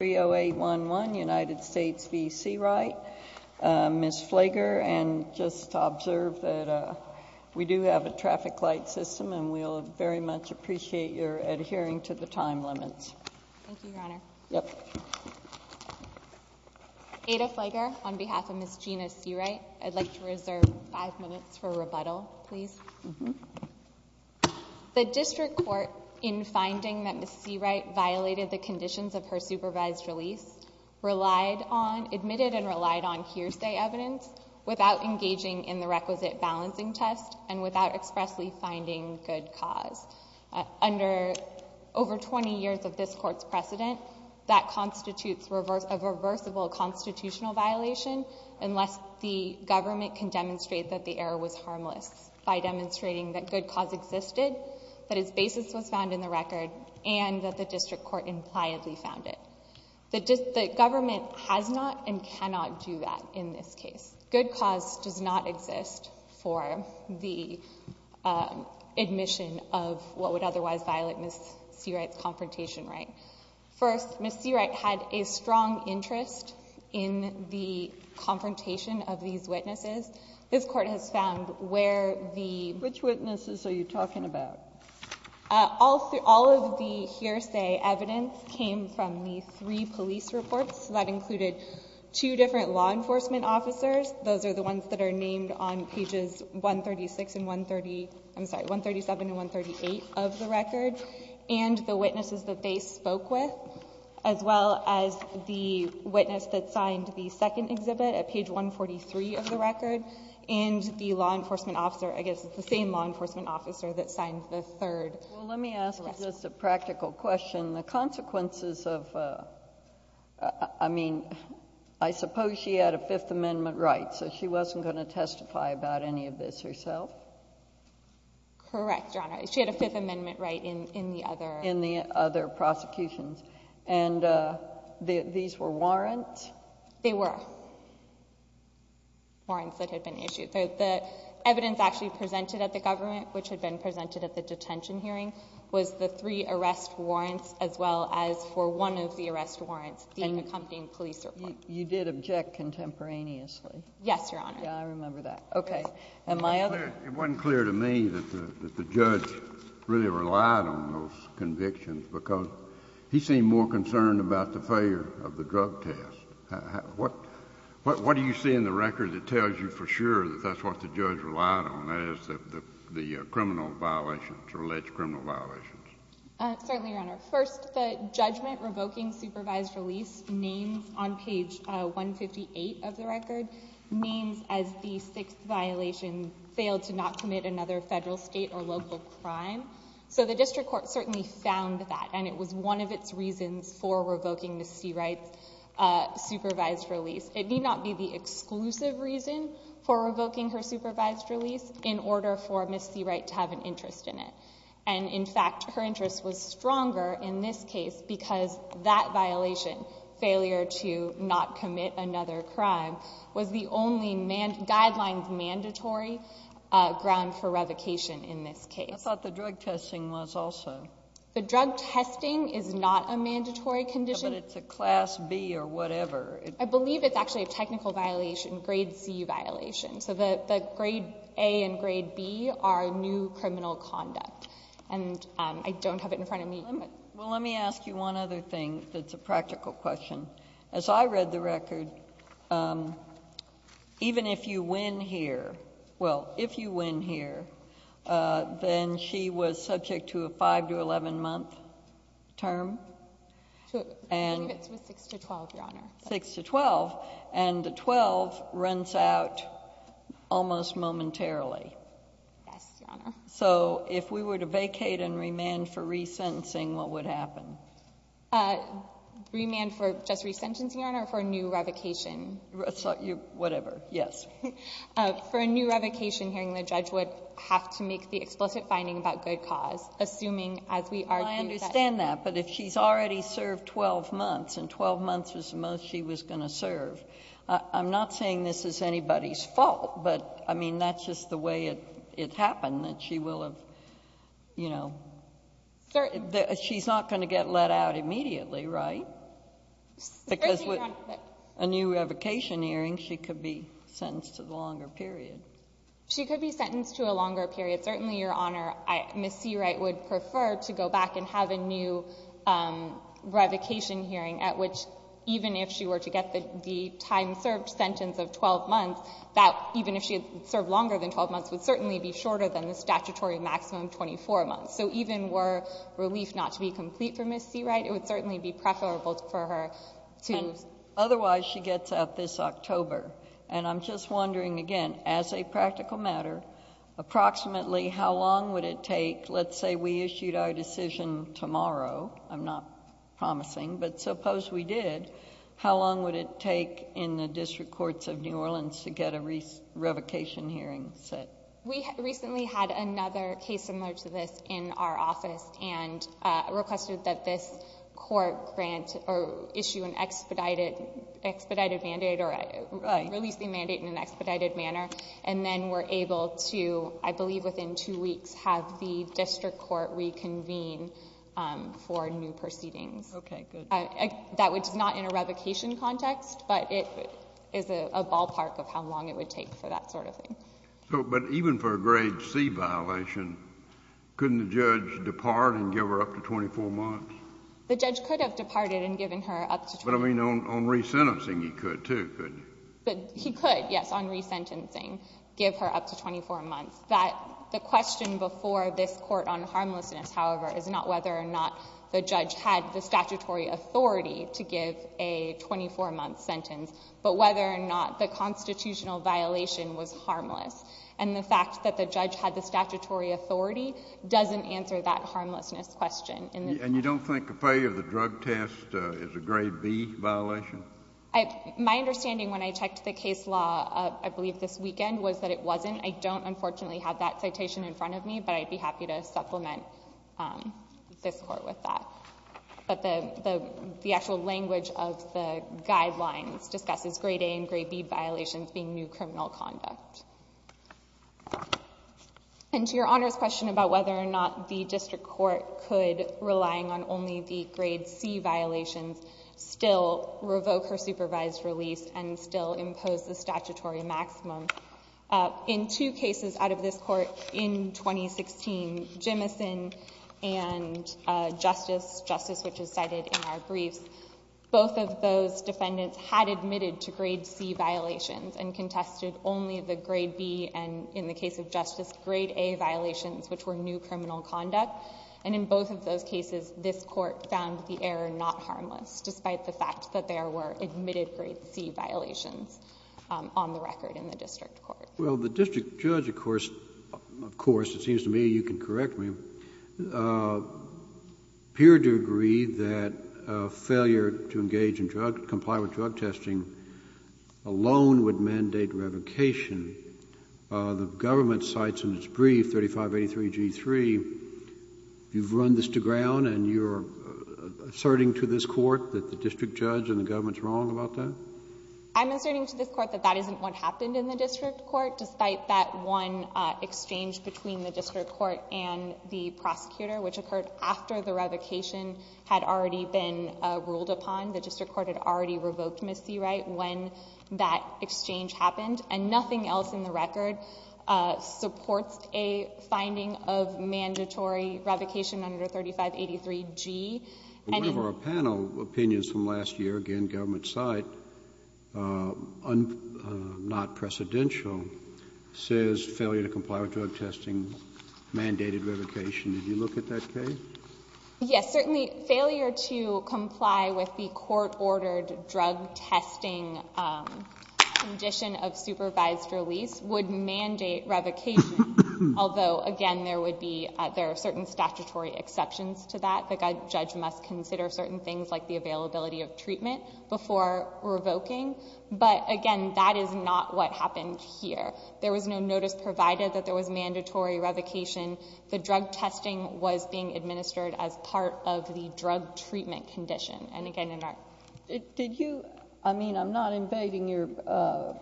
30811 United States v. Seawright, Ms. Flager, and just to observe that we do have a traffic light system and we'll very much appreciate your adhering to the time limits. Thank you, Your Honor. Yep. Ada Flager, on behalf of Ms. Gina Seawright, I'd like to reserve five minutes for rebuttal, please. The District Court, in finding that Ms. Seawright violated the conditions of her supervised release, relied on, admitted and relied on hearsay evidence without engaging in the requisite balancing test and without expressly finding good cause. Under over 20 years of this Court's precedent, that constitutes a reversible constitutional violation unless the government can demonstrate that the error was harmless by demonstrating that good cause existed, that its basis was found in the record, and that the District Court impliedly found it. The government has not and cannot do that in this case. Good cause does not exist for the admission of what would otherwise violate Ms. Seawright's confrontation right. First, Ms. Seawright had a strong interest in the confrontation of these witnesses. This Court has found where the— Which witnesses are you talking about? All of the hearsay evidence came from the three police reports that included two different law enforcement officers. Those are the ones that are named on pages 136 and 130—I'm sorry, 137 and 138 of the record, and the witnesses that they spoke with, as well as the witness that signed the second exhibit at page 143 of the record, and the law enforcement officer, I guess it's the same law enforcement officer that signed the third. Well, let me ask just a practical question. The consequences of—I mean, I suppose she had a Fifth Amendment right, so she wasn't going to testify about any of this herself? Correct, Your Honor. She had a Fifth Amendment right in the other— In the other prosecutions. And these were warrants? They were warrants that had been issued. The evidence actually presented at the government, which had been presented at the detention hearing, was the three arrest warrants, as well as for one of the arrest warrants being accompanying police report. You did object contemporaneously? Yes, Your Honor. Yes, I remember that. Okay. And my other— It wasn't clear to me that the judge really relied on those convictions, because he seemed more concerned about the failure of the drug test. What do you see in the record that tells you for sure that that's what the judge relied on, that is, the criminal violations or alleged criminal violations? Certainly, Your Honor. First, the judgment revoking supervised release names on page 158 of the record, names as the sixth violation, failed to not commit another federal, state, or local crime. So the district court certainly found that, and it was one of its reasons for revoking Ms. Seawright's supervised release. It need not be the exclusive reason for revoking her supervised release in order for Ms. Seawright to have an interest in it. And in fact, her interest was stronger in this case, because that violation, failure to not commit another crime, was the only guidelines mandatory ground for revocation in this case. I thought the drug testing was also. The drug testing is not a mandatory condition. But it's a class B or whatever. I believe it's actually a technical violation, grade C violation. So the grade A and grade B are new criminal conduct. And I don't have it in front of me. Well, let me ask you one other thing that's a practical question. As I read the record, even if you win here, well, if you win here, then she was subject to a 5 to 11 month term. I believe it's 6 to 12, Your Honor. 6 to 12. And the 12 runs out almost momentarily. Yes, Your Honor. So if we were to vacate and remand for resentencing, what would happen? Remand for just resentencing, Your Honor, or for a new revocation? Whatever. Yes. For a new revocation hearing, the judge would have to make the explicit finding about good cause, assuming as we argue that. Well, I understand that. But if she's already served 12 months, and 12 months was the month she was going to serve, I'm not saying this is anybody's fault. But, I mean, that's just the way it happened, that she will have, you know. She's not going to get let out immediately, right? Because with a new revocation hearing, she could be sentenced to the longer period. She could be sentenced to a longer period. Certainly, Your Honor, Ms. Seawright would prefer to go back and have a new revocation hearing, at which even if she were to get the time served sentence of 12 months, that even if she had served longer than 12 months would certainly be shorter than the statutory maximum 24 months. So even were relief not to be complete for Ms. Seawright, it would certainly be preferable for her to. And otherwise, she gets out this October. And I'm just wondering, again, as a practical matter, approximately how long would it take, let's say we issued our decision tomorrow, I'm not promising, but suppose we did, how long would it take in the district courts of New Orleans to get a revocation hearing set? We recently had another case similar to this in our office and requested that this court grant or issue an expedited mandate or release the mandate in an expedited manner. And then we're able to, I believe within two weeks, have the district court reconvene for new proceedings. Okay, good. That was not in a revocation context, but it is a ballpark of how long it would take for that sort of thing. So, but even for a grade C violation, couldn't the judge depart and give her up to 24 months? The judge could have departed and given her up to 24 months. But I mean, on resentencing, he could too, couldn't he? But he could, yes, on resentencing, give her up to 24 months. That, the question before this court on harmlessness, however, is not whether or not the judge had the statutory authority to give a 24-month sentence, but whether or not the constitutional violation was harmless. And the fact that the judge had the statutory authority doesn't answer that harmlessness question. And you don't think a failure of the drug test is a grade B violation? My understanding when I checked the case law, I believe this weekend, was that it wasn't. I don't, unfortunately, have that citation in front of me, but I'd be happy to supplement this court with that. But the actual language of the guidelines discusses grade A and grade B violations being new criminal conduct. And to your Honor's question about whether or not the district court could, relying on only the grade C violations, still revoke her supervised release and still impose the statutory maximum, in two cases out of this court in 2016, Jimmison and Justice, Justice which is cited in our briefs, both of those defendants had admitted to grade C violations and contested only the grade B and, in the case of Justice, grade A violations which were new criminal conduct. And in both of those cases, this court found the error not harmless, despite the fact that there were admitted grade C violations on the record in the district court. Well, the district judge, of course, it seems to me, you can correct me, appeared to agree that failure to engage in drug, comply with drug testing alone would mandate revocation. The government cites in its brief 3583 G3. You've run this to ground and you're asserting to this court that the district judge and the government's wrong about that? I'm asserting to this court that that isn't what happened in the district court, despite that one exchange between the district court and the prosecutor which occurred after the revocation had already been ruled upon. The district court had already revoked Ms. Seawright when that exchange happened. And nothing else in the record supports a finding of mandatory revocation under 3583 G. And one of our panel opinions from last year, again, government side, not precedential, says failure to comply with drug testing mandated revocation. Did you look at that case? Yes, certainly failure to comply with the court-ordered drug testing condition of supervised release would mandate revocation, although, again, there would be, there judge must consider certain things like the availability of treatment before revoking. But again, that is not what happened here. There was no notice provided that there was mandatory revocation. The drug testing was being administered as part of the drug treatment condition. And again, in our... Did you, I mean, I'm not invading your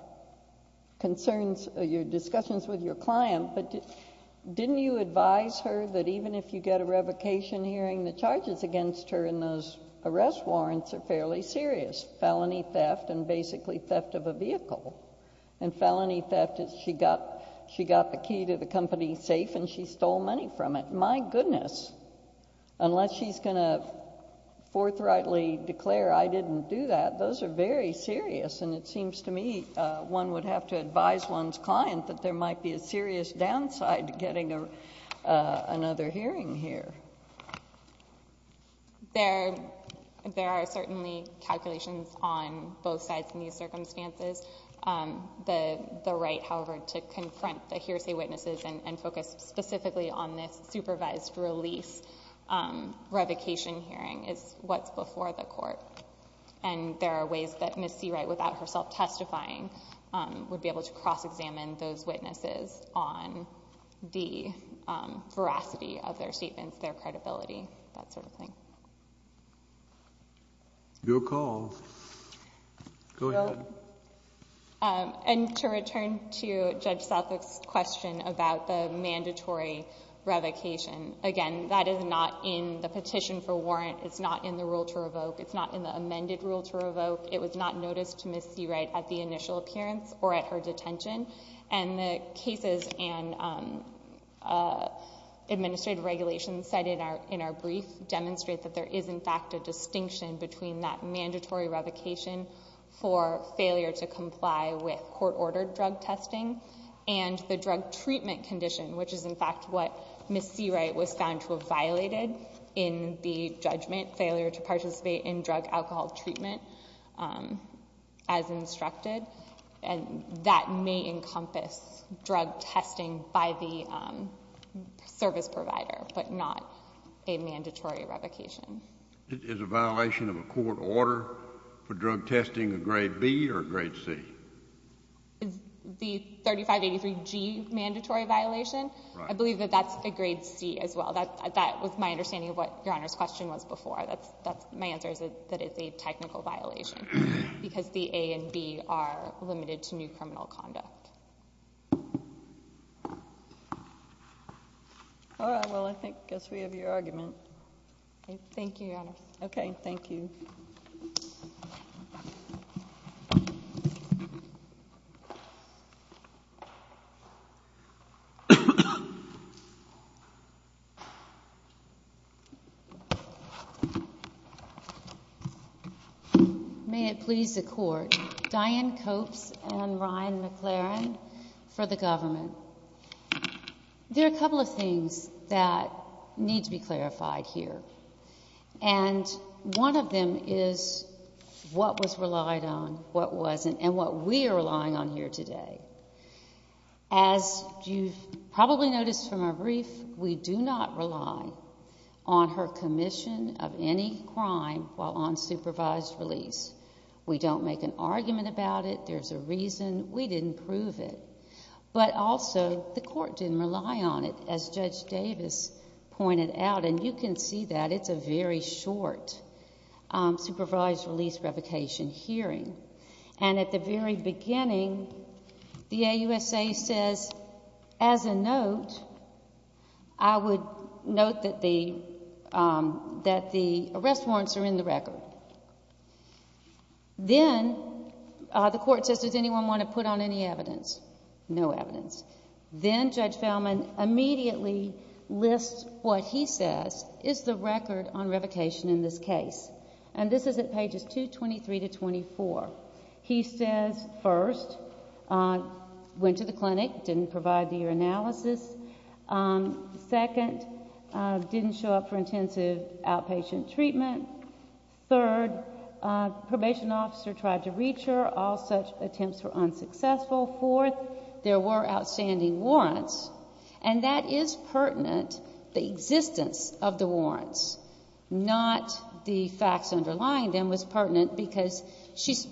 concerns, your discussions with your client, but didn't you advise her that even if you get a revocation, hearing the charges against her in those arrest warrants are fairly serious? Felony theft and basically theft of a vehicle. And felony theft is she got the key to the company safe and she stole money from it. My goodness. Unless she's going to forthrightly declare I didn't do that, those are very serious. And it seems to me one would have to advise one's client that there might be a serious downside to getting another hearing here. There are certainly calculations on both sides in these circumstances. The right, however, to confront the hearsay witnesses and focus specifically on this supervised release revocation hearing is what's before the court. And there are ways that Ms. Seawright, without herself testifying, would be able to cross examine those witnesses on the veracity of their statements, their credibility, that sort of thing. Do a call. Go ahead. And to return to Judge Southwick's question about the mandatory revocation. Again, that is not in the petition for warrant. It's not in the rule to revoke. It's not in the amended rule to revoke. It was not noticed to Ms. Seawright at the initial appearance or at her detention. And the cases and administrative regulations cited in our brief demonstrate that there is in fact a distinction between that mandatory revocation for failure to comply with court ordered drug testing and the drug treatment condition, which is in fact what Ms. Seawright was found to have violated in the judgment, failure to participate in drug alcohol treatment as instructed. And that may encompass drug testing by the service provider, but not a mandatory revocation. Is a violation of a court order for drug testing a grade B or grade C? Is the 3583G mandatory violation? I believe that that's a grade C as well. That was my understanding of what Your Honor's question was before. My answer is that it's a technical violation because the A and B are limited to new criminal conduct. All right. Well, I guess we have your argument. Okay. Thank you, Your Honor. Okay. Thank you. May it please the Court, Dianne Copes and Ryan McLaren for the government. There are a couple of things that need to be clarified here, and one of them is what was relied on, what wasn't, and what we are relying on here today. You probably noticed from our brief, we do not rely on her commission of any crime while on supervised release. We don't make an argument about it. There's a reason. We didn't prove it. But also, the Court didn't rely on it, as Judge Davis pointed out, and you can see that it's a very short supervised release revocation hearing. At the very beginning, the AUSA says, as a note, I would note that the arrest warrants are in the record. Then the Court says, does anyone want to put on any evidence? No evidence. Then Judge Feldman immediately lists what he says is the record on revocation in this case. And this is at pages 223 to 224. He says, first, went to the clinic, didn't provide the analysis. Second, didn't show up for intensive outpatient treatment. Third, probation officer tried to reach her. All such attempts were unsuccessful. Fourth, there were outstanding warrants, and that is pertinent, the existence of the facts underlying them was pertinent because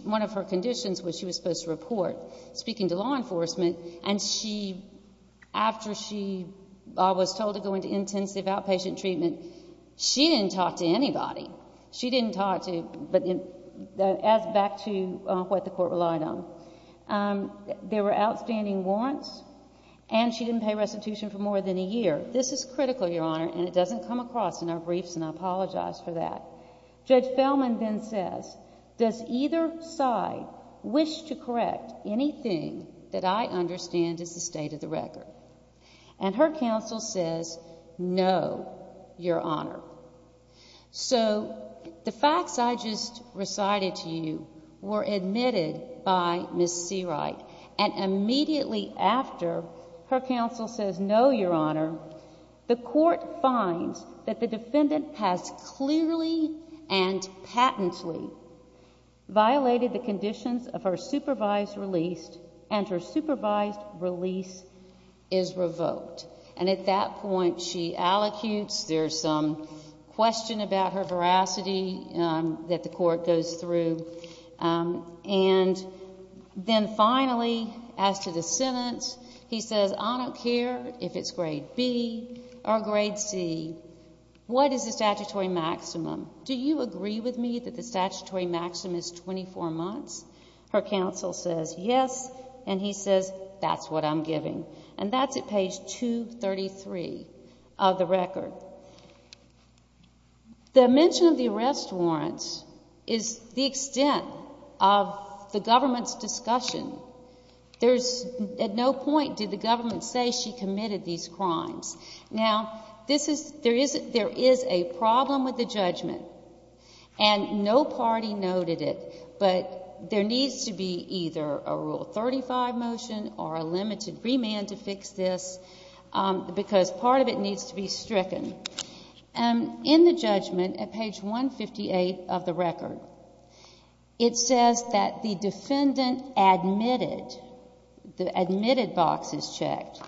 one of her conditions was she was supposed to report speaking to law enforcement, and after she was told to go into intensive outpatient treatment, she didn't talk to anybody. She didn't talk to, but that adds back to what the Court relied on. There were outstanding warrants, and she didn't pay restitution for more than a year. This is critical, Your Honor, and it doesn't come across in our briefs, and I apologize for that. Judge Feldman then says, does either side wish to correct anything that I understand is the state of the record? And her counsel says, no, Your Honor. So the facts I just recited to you were admitted by Ms. Seawright, and immediately after her counsel says, no, Your Honor, the Court finds that the defendant has clearly and patently violated the conditions of her supervised release, and her supervised release is revoked. And at that point, she allocutes. There's some question about her veracity that the Court goes through. And then finally, as to the sentence, he says, I don't care if it's grade B or grade C. What is the statutory maximum? Do you agree with me that the statutory maximum is 24 months? Her counsel says, yes, and he says, that's what I'm giving. And that's at page 233 of the record. So the mention of the arrest warrant is the extent of the government's discussion. There's at no point did the government say she committed these crimes. Now, there is a problem with the judgment, and no party noted it, but there needs to be either a Rule 35 motion or a limited remand to fix this, because part of it needs to be fixed. In the judgment at page 158 of the record, it says that the defendant admitted, the admitted box is checked,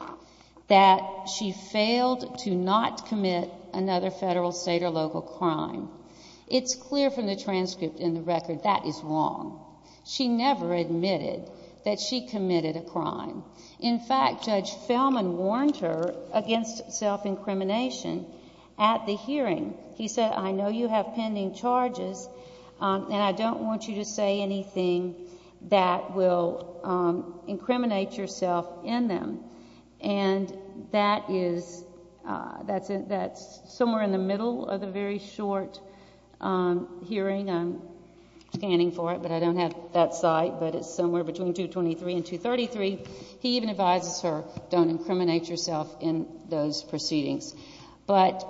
that she failed to not commit another federal, state, or local crime. It's clear from the transcript in the record that is wrong. She never admitted that she committed a crime. In fact, Judge Fellman warned her against self-incrimination at the hearing. He said, I know you have pending charges, and I don't want you to say anything that will incriminate yourself in them. And that is, that's somewhere in the middle of the very short hearing. I'm scanning for it, but I don't have that site, but it's somewhere between 223 and 233. He even advises her, don't incriminate yourself in those proceedings. But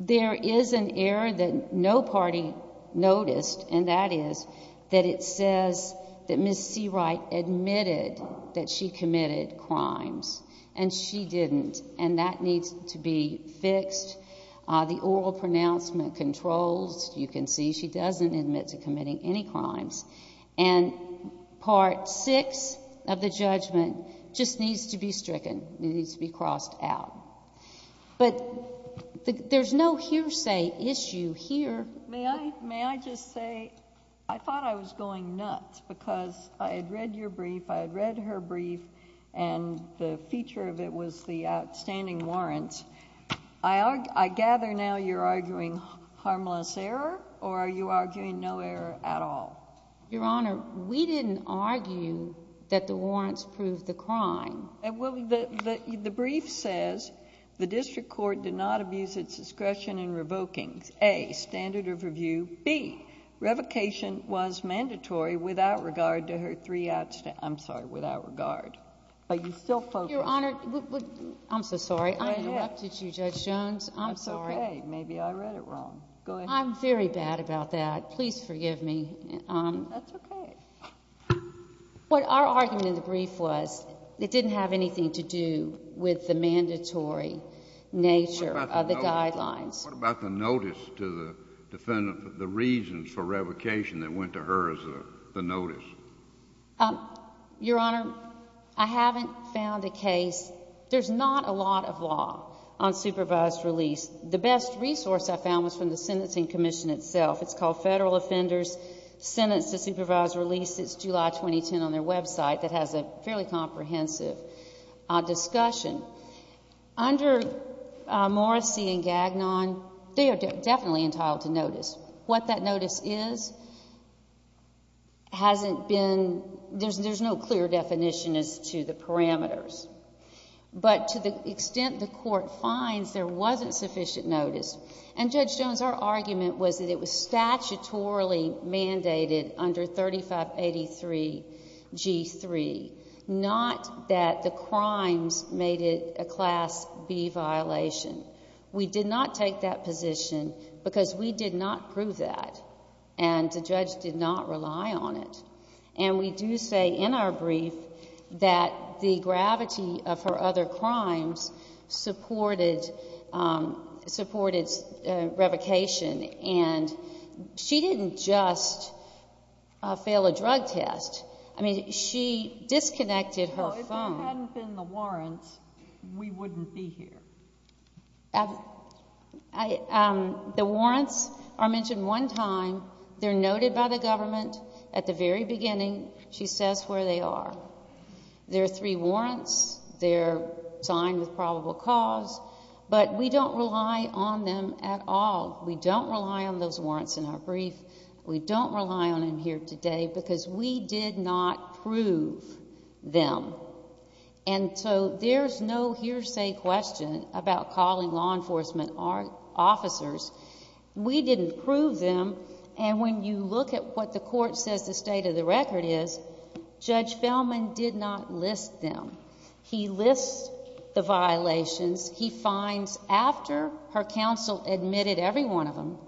there is an error that no party noticed, and that is that it says that Ms. Seawright admitted that she committed crimes, and she didn't, and that needs to be fixed. The oral pronouncement controls. You can see she doesn't admit to committing any crimes. And part six of the judgment just needs to be stricken. It needs to be crossed out. But there's no hearsay issue here. May I just say, I thought I was going nuts because I had read your brief, I had read her brief, and the feature of it was the outstanding warrant. I gather now you're arguing harmless error, or are you arguing no error at all? Your Honor, we didn't argue that the warrants proved the crime. Well, the brief says the district court did not abuse its discretion in revoking, A, standard of review, B, revocation was mandatory without regard to her three outstanding, I'm sorry, without regard. Are you still focused? Your Honor, I'm so sorry. I interrupted you, Judge Jones. I'm sorry. It's okay. Maybe I read it wrong. Go ahead. I'm very bad about that. Please forgive me. That's okay. What our argument in the brief was, it didn't have anything to do with the mandatory nature of the guidelines. What about the notice to the defendant, the reasons for revocation that went to her as the notice? Your Honor, I haven't found a case. There's not a lot of law on supervised release. The best resource I found was from the Sentencing Commission itself. It's called Federal Offenders Sentenced to Supervised Release. It's July 2010 on their website. It has a fairly comprehensive discussion. Under Morrissey and Gagnon, they are definitely entitled to notice. What that notice is hasn't been, there's no clear definition as to the parameters. But to the extent the court finds there wasn't sufficient notice, and Judge Jones, our argument was that it was statutorily mandated under 3583 G3, not that the crimes made it a Class B violation. We did not take that position because we did not prove that, and the judge did not rely on it. And we do say in our brief that the gravity of her other crimes supported revocation, and she didn't just fail a drug test. I mean, she disconnected her phone. If there hadn't been the warrants, we wouldn't be here. The warrants are mentioned one time. They're noted by the government at the very beginning. She says where they are. There are three warrants. They're signed with probable cause, but we don't rely on them at all. We don't rely on those warrants in our brief. We don't rely on them here today because we did not prove them. And so there's no hearsay question about calling law enforcement officers. We didn't prove them, and when you look at what the court says the state of the record is, Judge Feldman did not list them. He lists the violations. He finds after her counsel admitted every one of them,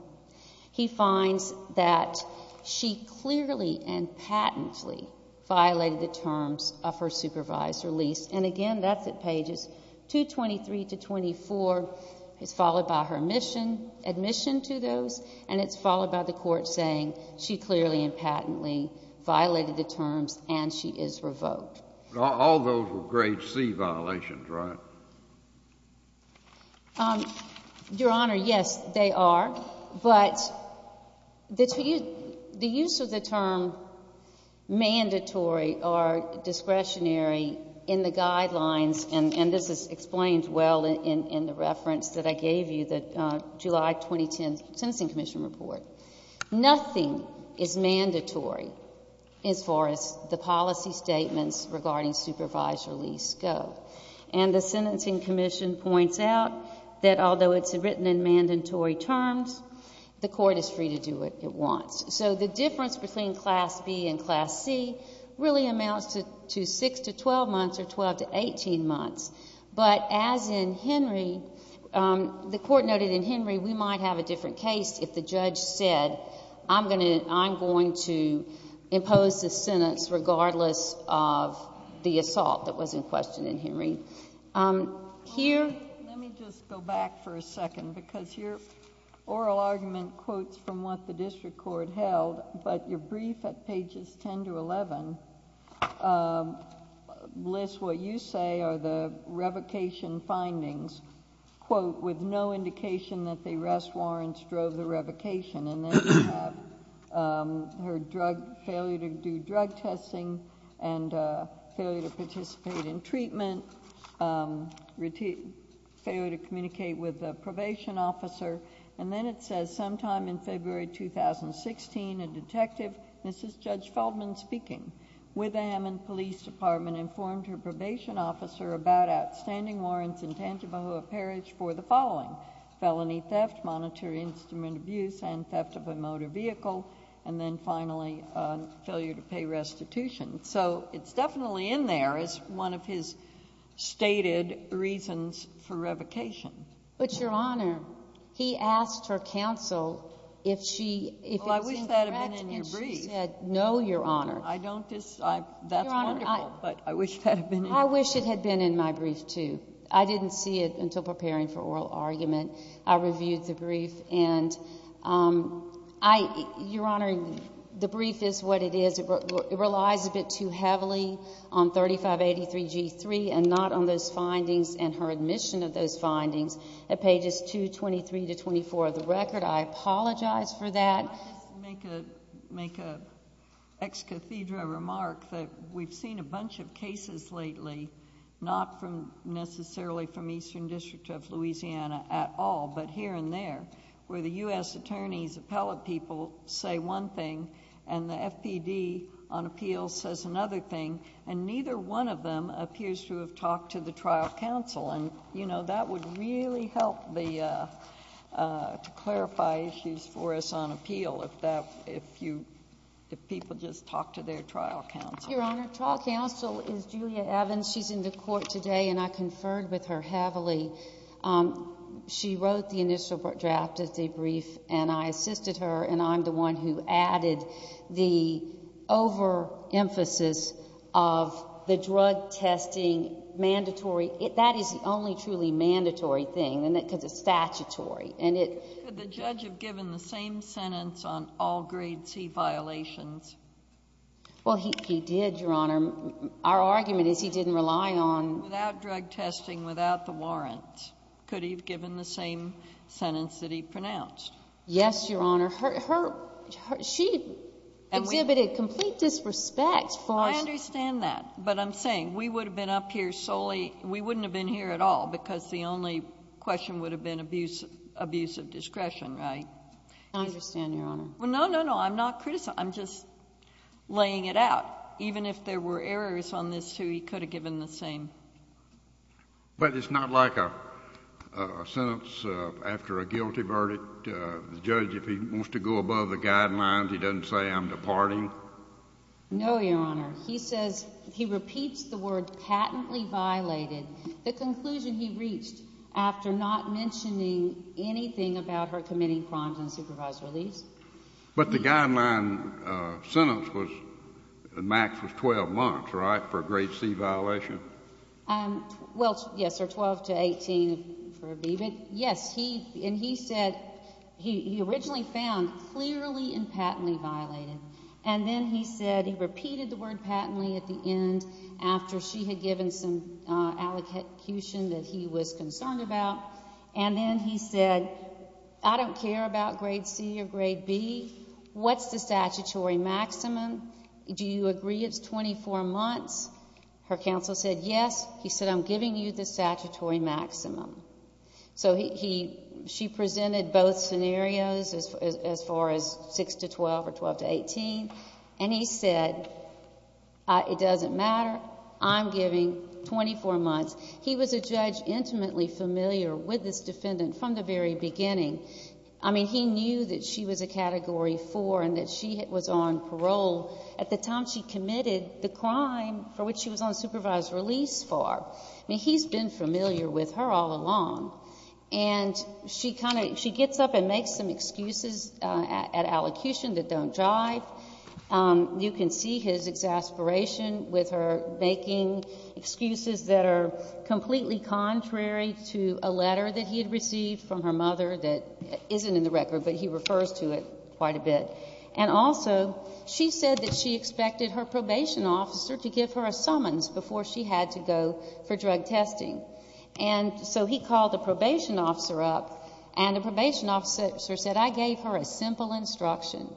he finds that she clearly and patently violated the terms of her supervisor lease. And again, that's at pages 223 to 24. It's followed by her admission to those, and it's followed by the court saying she clearly and patently violated the terms, and she is revoked. All those were grade C violations, right? Your Honor, yes, they are. But the use of the term mandatory or discretionary in the guidelines, and this is explained well in the reference that I gave you, the July 2010 Sentencing Commission Report, nothing is mandatory as far as the policy statements regarding supervisor lease go. And the Sentencing Commission points out that although it's written in mandatory terms, the court is free to do what it wants. So the difference between Class B and Class C really amounts to 6 to 12 months or 12 to 18 months. But as in Henry, the court noted in Henry we might have a different case if the judge said, I'm going to impose this sentence regardless of the assault that was in question in Henry. Here... Let me just go back for a second because your oral argument quotes from what the district court held, but your brief at pages 10 to 11 lists what you say are the revocation findings, quote, with no indication that the arrest warrants drove the revocation. And then you have her failure to do drug testing and failure to participate in treatment, failure to communicate with the probation officer. And then it says sometime in February 2016, a detective, Mrs. Judge Feldman speaking, with the Hammond Police Department, informed her probation officer about outstanding warrants in Tangibahoa Parish for the following, felony theft, monetary instrument abuse, and theft of a motor vehicle, and then finally, failure to pay restitution. So it's definitely in there as one of his stated reasons for revocation. But, Your Honor, he asked her counsel if she... Well, I wish that had been in your brief.... and she said, no, Your Honor. I don't disagree. That's wonderful, but I wish that had been in your brief. I wish it had been in my brief, too. I didn't see it until preparing for oral argument. I reviewed the brief, and, Your Honor, the brief is what it is. It relies a bit too heavily on 3583G3 and not on those findings and her admission of those findings at pages 223 to 224 of the record. I apologize for that. Let me just make an ex cathedra remark that we've seen a bunch of cases lately, not necessarily from Eastern District of Louisiana at all, but here and there, where the U.S. attorney's appellate people say one thing, and the FPD on appeals says another thing, and neither one of them appears to have talked to the trial counsel. And, you know, that would really help to clarify issues for us on appeal if people just talked to their trial counsel. Your Honor, trial counsel is Julia Evans. She's in the court today, and I conferred with her heavily. She wrote the initial draft of the brief, and I assisted her, and I'm the one who added the overemphasis of the drug testing mandatory. That is the only truly mandatory thing, isn't it, because it's statutory, and it— Could the judge have given the same sentence on all grade C violations? Well, he did, Your Honor. Our argument is he didn't rely on— Without drug testing, without the warrant, could he have given the same sentence that he pronounced? Yes, Your Honor. She exhibited complete disrespect for— I understand that. But I'm saying, we would have been up here solely—we wouldn't have been here at all, because the only question would have been abuse of discretion, right? I understand, Your Honor. Well, no, no, no. I'm not criticizing. I'm just laying it out. Even if there were errors on this, too, he could have given the same. But it's not like a sentence after a guilty verdict. The judge, if he wants to go above the guidelines, he doesn't say, I'm departing? No, Your Honor. He says—he repeats the word patently violated. The conclusion he reached after not mentioning anything about her committing crimes and supervised release. But the guideline sentence was—the max was 12 months, right? For a grade C violation. Well, yes, or 12 to 18 for a B. But yes, he—and he said—he originally found clearly and patently violated. And then he said he repeated the word patently at the end after she had given some allocution that he was concerned about. And then he said, I don't care about grade C or grade B. What's the statutory maximum? Do you agree it's 24 months? Her counsel said, yes. He said, I'm giving you the statutory maximum. So he—she presented both scenarios as far as 6 to 12 or 12 to 18. And he said, it doesn't matter. I'm giving 24 months. He was a judge intimately familiar with this defendant from the very beginning. I mean, he knew that she was a Category 4 and that she was on parole at the time she committed the crime for which she was on supervised release for. I mean, he's been familiar with her all along. And she kind of—she gets up and makes some excuses at allocution that don't jive. You can see his exasperation with her making excuses that are completely contrary to a letter that he had received from her mother that isn't in the record, but he refers to it quite a bit. And also, she said that she expected her probation officer to give her a summons before she had to go for drug testing. And so he called the probation officer up, and the probation officer said, I gave her a simple instruction.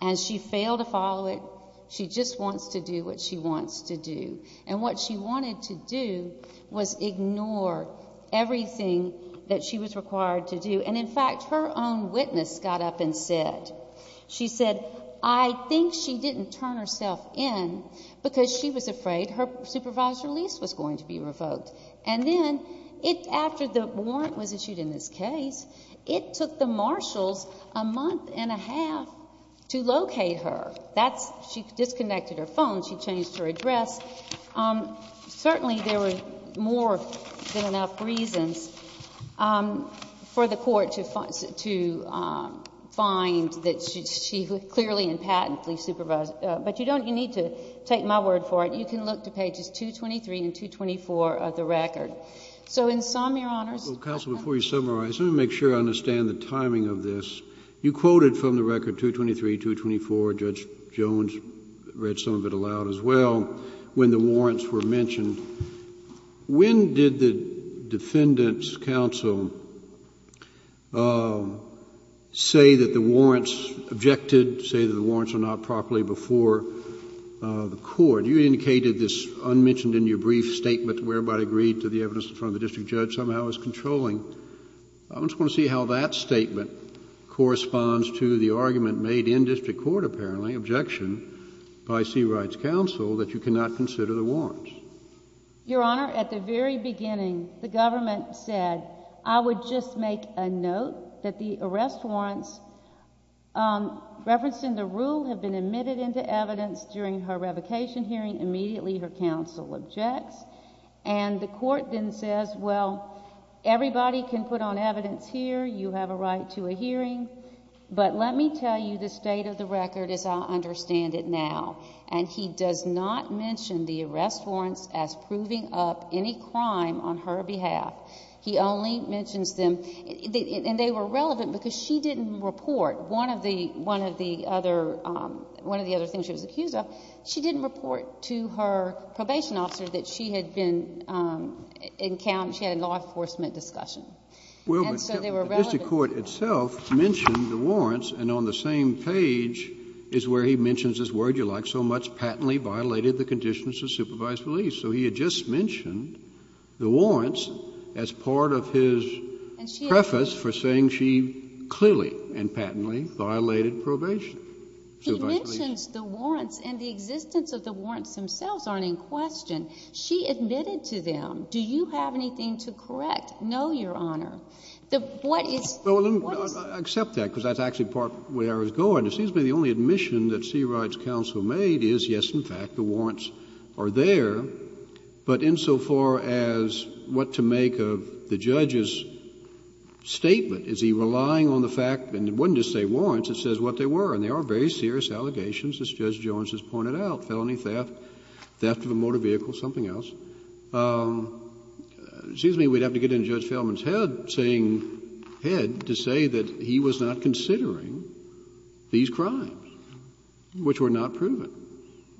And she failed to follow it. She just wants to do what she wants to do. And what she wanted to do was ignore everything that she was required to do. And in fact, her own witness got up and said—she said, I think she didn't turn herself in because she was afraid her supervised release was going to be revoked. And then, after the warrant was issued in this case, it took the marshals a month and a half to locate her. That's—she disconnected her phone. She changed her address. Certainly, there were more than enough reasons for the court to find that she clearly and patently supervised. But you don't—you need to take my word for it. You can look to pages 223 and 224 of the record. So in sum, Your Honors— JUSTICE SCALIA. Counsel, before you summarize, let me make sure I understand the timing of this. You quoted from the record 223, 224—Judge Jones read some of it aloud as well—when the warrants were mentioned. When did the Defendant's counsel say that the warrants—objected to say that the warrants were not properly before the court? You indicated this unmentioned in your brief statement where everybody agreed to the evidence in front of the district judge somehow is controlling. I just want to see how that statement corresponds to the argument made in district court, apparently—objection by C. Wright's counsel—that you cannot consider the MS. GOTTLIEB. Your Honor, at the very beginning, the government said, I would just make a note that the arrest warrants referencing the rule have been admitted into evidence during her revocation hearing. Immediately, her counsel objects. And the court then says, well, everybody can put on evidence here. You have a right to a hearing. But let me tell you the state of the record as I understand it now. And he does not mention the arrest warrants as proving up any crime on her behalf. He only mentions them—and they were relevant because she didn't report one of the other—one of the other things she was accused of. She didn't report to her probation officer that she had been encountered—she had a law enforcement discussion. And so they were relevant. JUSTICE SCALIA. Well, but the district court itself mentioned the warrants. And on the same page is where he mentions this word you like so much, patently violated the conditions of supervised release. So he had just mentioned the warrants as part of his preface for saying she clearly and patently violated probation. MS. But the existence of the warrants themselves aren't in question. She admitted to them. Do you have anything to correct? No, Your Honor. What is— JUSTICE SCALIA. Well, let me accept that, because that's actually part of where I was going. It seems to me the only admission that C. Wright's counsel made is, yes, in fact, the warrants are there. But insofar as what to make of the judge's statement, is he relying on the fact—and it wasn't just say warrants, it says what they were. And they are very serious allegations, as Judge Jones has pointed out, felony theft, theft of a motor vehicle, something else. It seems to me we'd have to get into Judge Feldman's head saying—head to say that he was not considering these crimes, which were not proven. MS. SCALIA.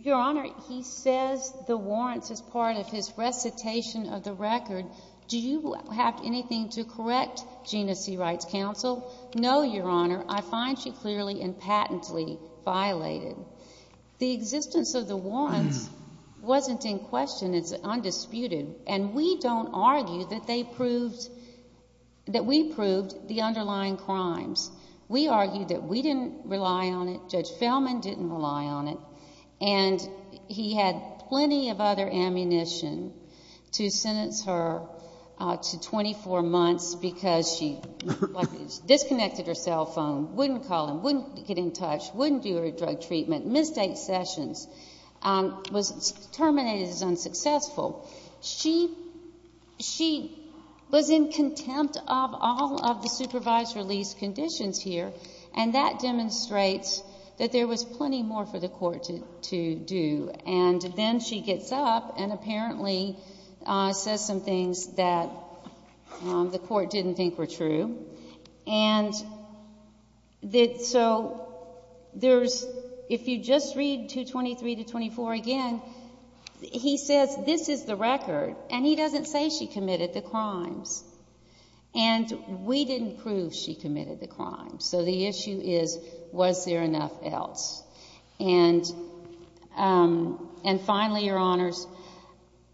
Your Honor, he says the warrants as part of his recitation of the record. Do you have anything to correct, Gina C. Wright's counsel? No, Your Honor. I find she clearly and patently violated. The existence of the warrants wasn't in question. It's undisputed. And we don't argue that they proved—that we proved the underlying crimes. We argued that we didn't rely on it. Judge Feldman didn't rely on it. And he had plenty of other ammunition to sentence her to 24 months because she disconnected her cell phone, wouldn't call him, wouldn't get in touch, wouldn't do her drug treatment, missed eight sessions, was terminated as unsuccessful. She was in contempt of all of the supervised release conditions here. And that demonstrates that there was plenty more for the Court to do. And then she gets up and apparently says some things that the Court didn't think were true. And so there's—if you just read 223 to 24 again, he says this is the record. And he doesn't say she committed the crimes. And we didn't prove she committed the crimes. So the issue is, was there enough else? And finally, Your Honors,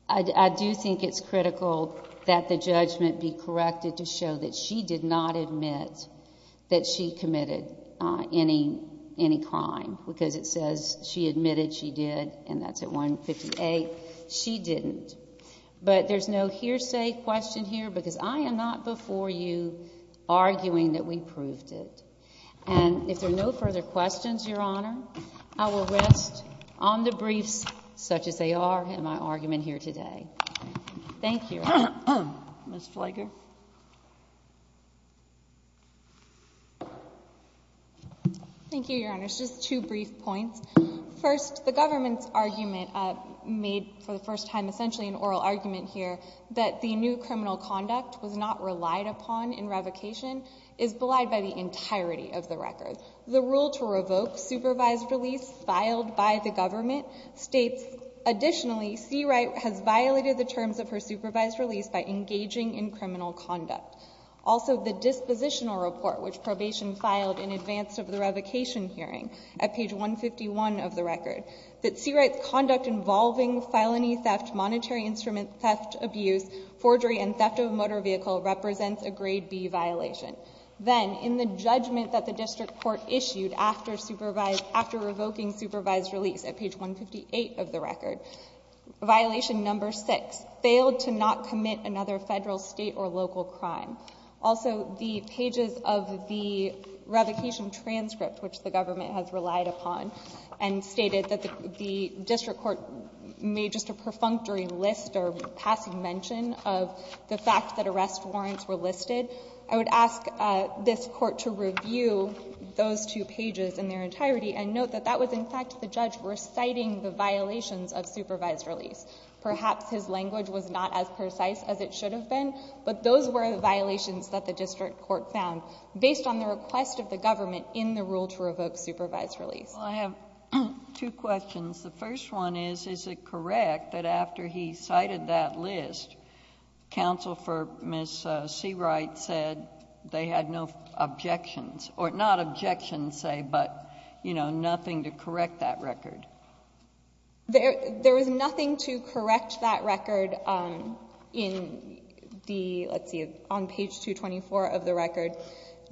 I do think it's critical that the judgment be corrected to show that she did not admit that she committed any crime, because it says she admitted she did, and that's at 158. She didn't. But there's no hearsay question here because I am not before you arguing that we proved it. And if there are no further questions, Your Honor, I will rest on the briefs such as they are in my argument here today. Thank you. Ms. Fleger. Thank you, Your Honors. Just two brief points. First, the government's argument made for the first time essentially an oral argument here that the new criminal conduct was not relied upon in revocation is belied by the entirety of the record. The rule to revoke supervised release filed by the government states, additionally, C. Wright has violated the terms of her supervised release by engaging in criminal conduct. Also, the dispositional report which probation filed in advance of the revocation hearing at page 151 of the record, that C. Wright's conduct involving felony theft, monetary instrument theft, abuse, forgery, and theft of a motor vehicle represents a grade B violation. Then, in the judgment that the district court issued after revoking supervised release at page 158 of the record, violation number six, failed to not commit another federal, state, or local crime. Also, the pages of the revocation transcript which the government has relied upon and stated that the district court made just a perfunctory list or passing mention of the fact that arrest warrants were listed. I would ask this court to review those two pages in their entirety and note that that the judge was citing the violations of supervised release. Perhaps his language was not as precise as it should have been, but those were the violations that the district court found based on the request of the government in the rule to revoke supervised release. Well, I have two questions. The first one is, is it correct that after he cited that list, counsel for Ms. C. Wright said they had no objections, or not objections, say, but, you know, nothing to correct that record? There is nothing to correct that record in the, let's see, on page 224 of the record.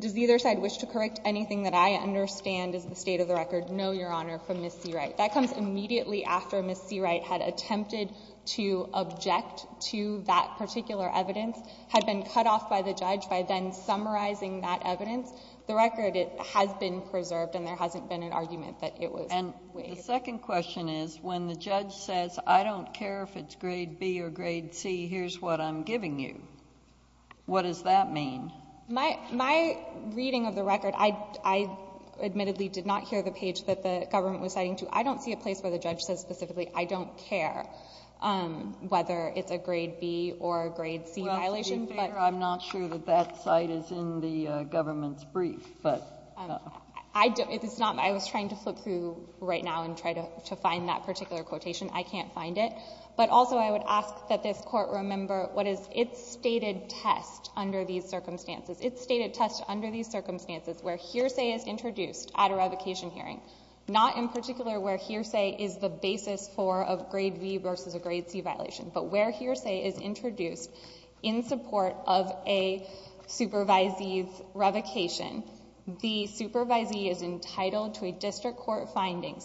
Does either side wish to correct anything that I understand is the state of the record? No, Your Honor, from Ms. C. Wright. That comes immediately after Ms. C. Wright had attempted to object to that particular evidence, had been cut off by the judge by then summarizing that evidence. The record, it has been preserved, and there hasn't been an argument that it was waived. And the second question is, when the judge says, I don't care if it's grade B or grade C, here's what I'm giving you, what does that mean? My reading of the record, I admittedly did not hear the page that the government was citing to. I don't see a place where the judge says specifically, I don't care whether it's a grade B or a grade C violation. Well, to be fair, I'm not sure that that site is in the government's brief, but. I don't. It's not. I was trying to flip through right now and try to find that particular quotation. I can't find it. But also, I would ask that this Court remember what is its stated test under these circumstances. Its stated test under these circumstances where hearsay is introduced at a revocation hearing, not in particular where hearsay is the basis for a grade B versus a grade C violation, but where hearsay is introduced in support of a supervisee's revocation, the supervisee is entitled to a district court finding,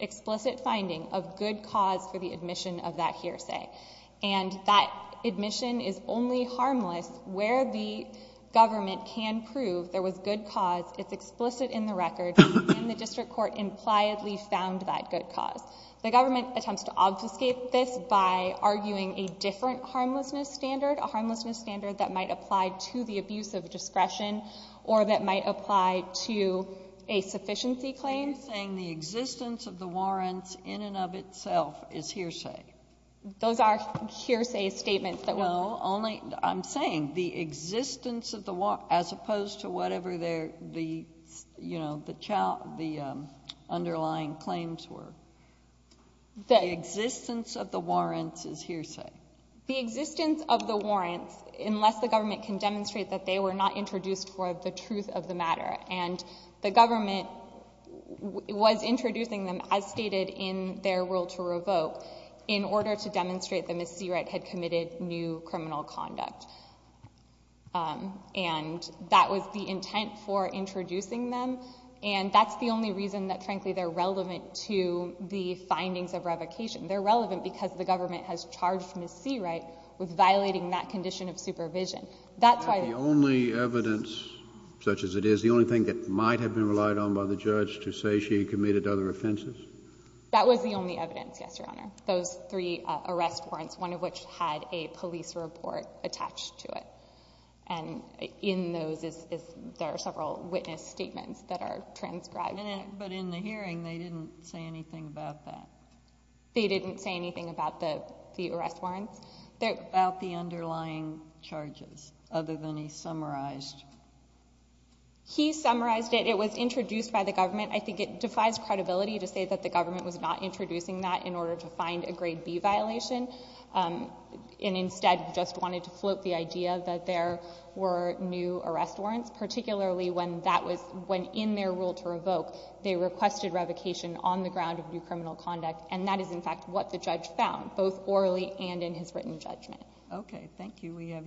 explicit finding, of good cause for the admission of that hearsay. And that admission is only harmless where the government can prove there was good cause, it's explicit in the record, and the district court impliedly found that good cause. The government attempts to obfuscate this by arguing a different harmlessness standard, a harmlessness standard that might apply to the abuse of discretion or that might apply to a sufficiency claim. You're saying the existence of the warrants in and of itself is hearsay. Those are hearsay statements that were made. No, only, I'm saying the existence of the warrants, as opposed to whatever the, you The existence of the warrants is hearsay. The existence of the warrants, unless the government can demonstrate that they were not introduced for the truth of the matter, and the government was introducing them as stated in their rule to revoke, in order to demonstrate that Ms. Seawright had committed new criminal conduct. And that was the intent for introducing them, and that's the only reason that frankly they're the findings of revocation. They're relevant because the government has charged Ms. Seawright with violating that condition of supervision. That's why the only evidence, such as it is, the only thing that might have been relied on by the judge to say she committed other offenses? That was the only evidence, yes, Your Honor. Those three arrest warrants, one of which had a police report attached to it. And in those is, there are several witness statements that are transcribed. But in the hearing, they didn't say anything about that. They didn't say anything about the arrest warrants? About the underlying charges, other than he summarized. He summarized it. It was introduced by the government. I think it defies credibility to say that the government was not introducing that in order to find a grade B violation, and instead just wanted to float the idea that there were new arrest warrants, particularly when in their rule to revoke, they requested revocation on the ground of new criminal conduct. And that is, in fact, what the judge found, both orally and in his written judgment. Okay. Thank you. We have your...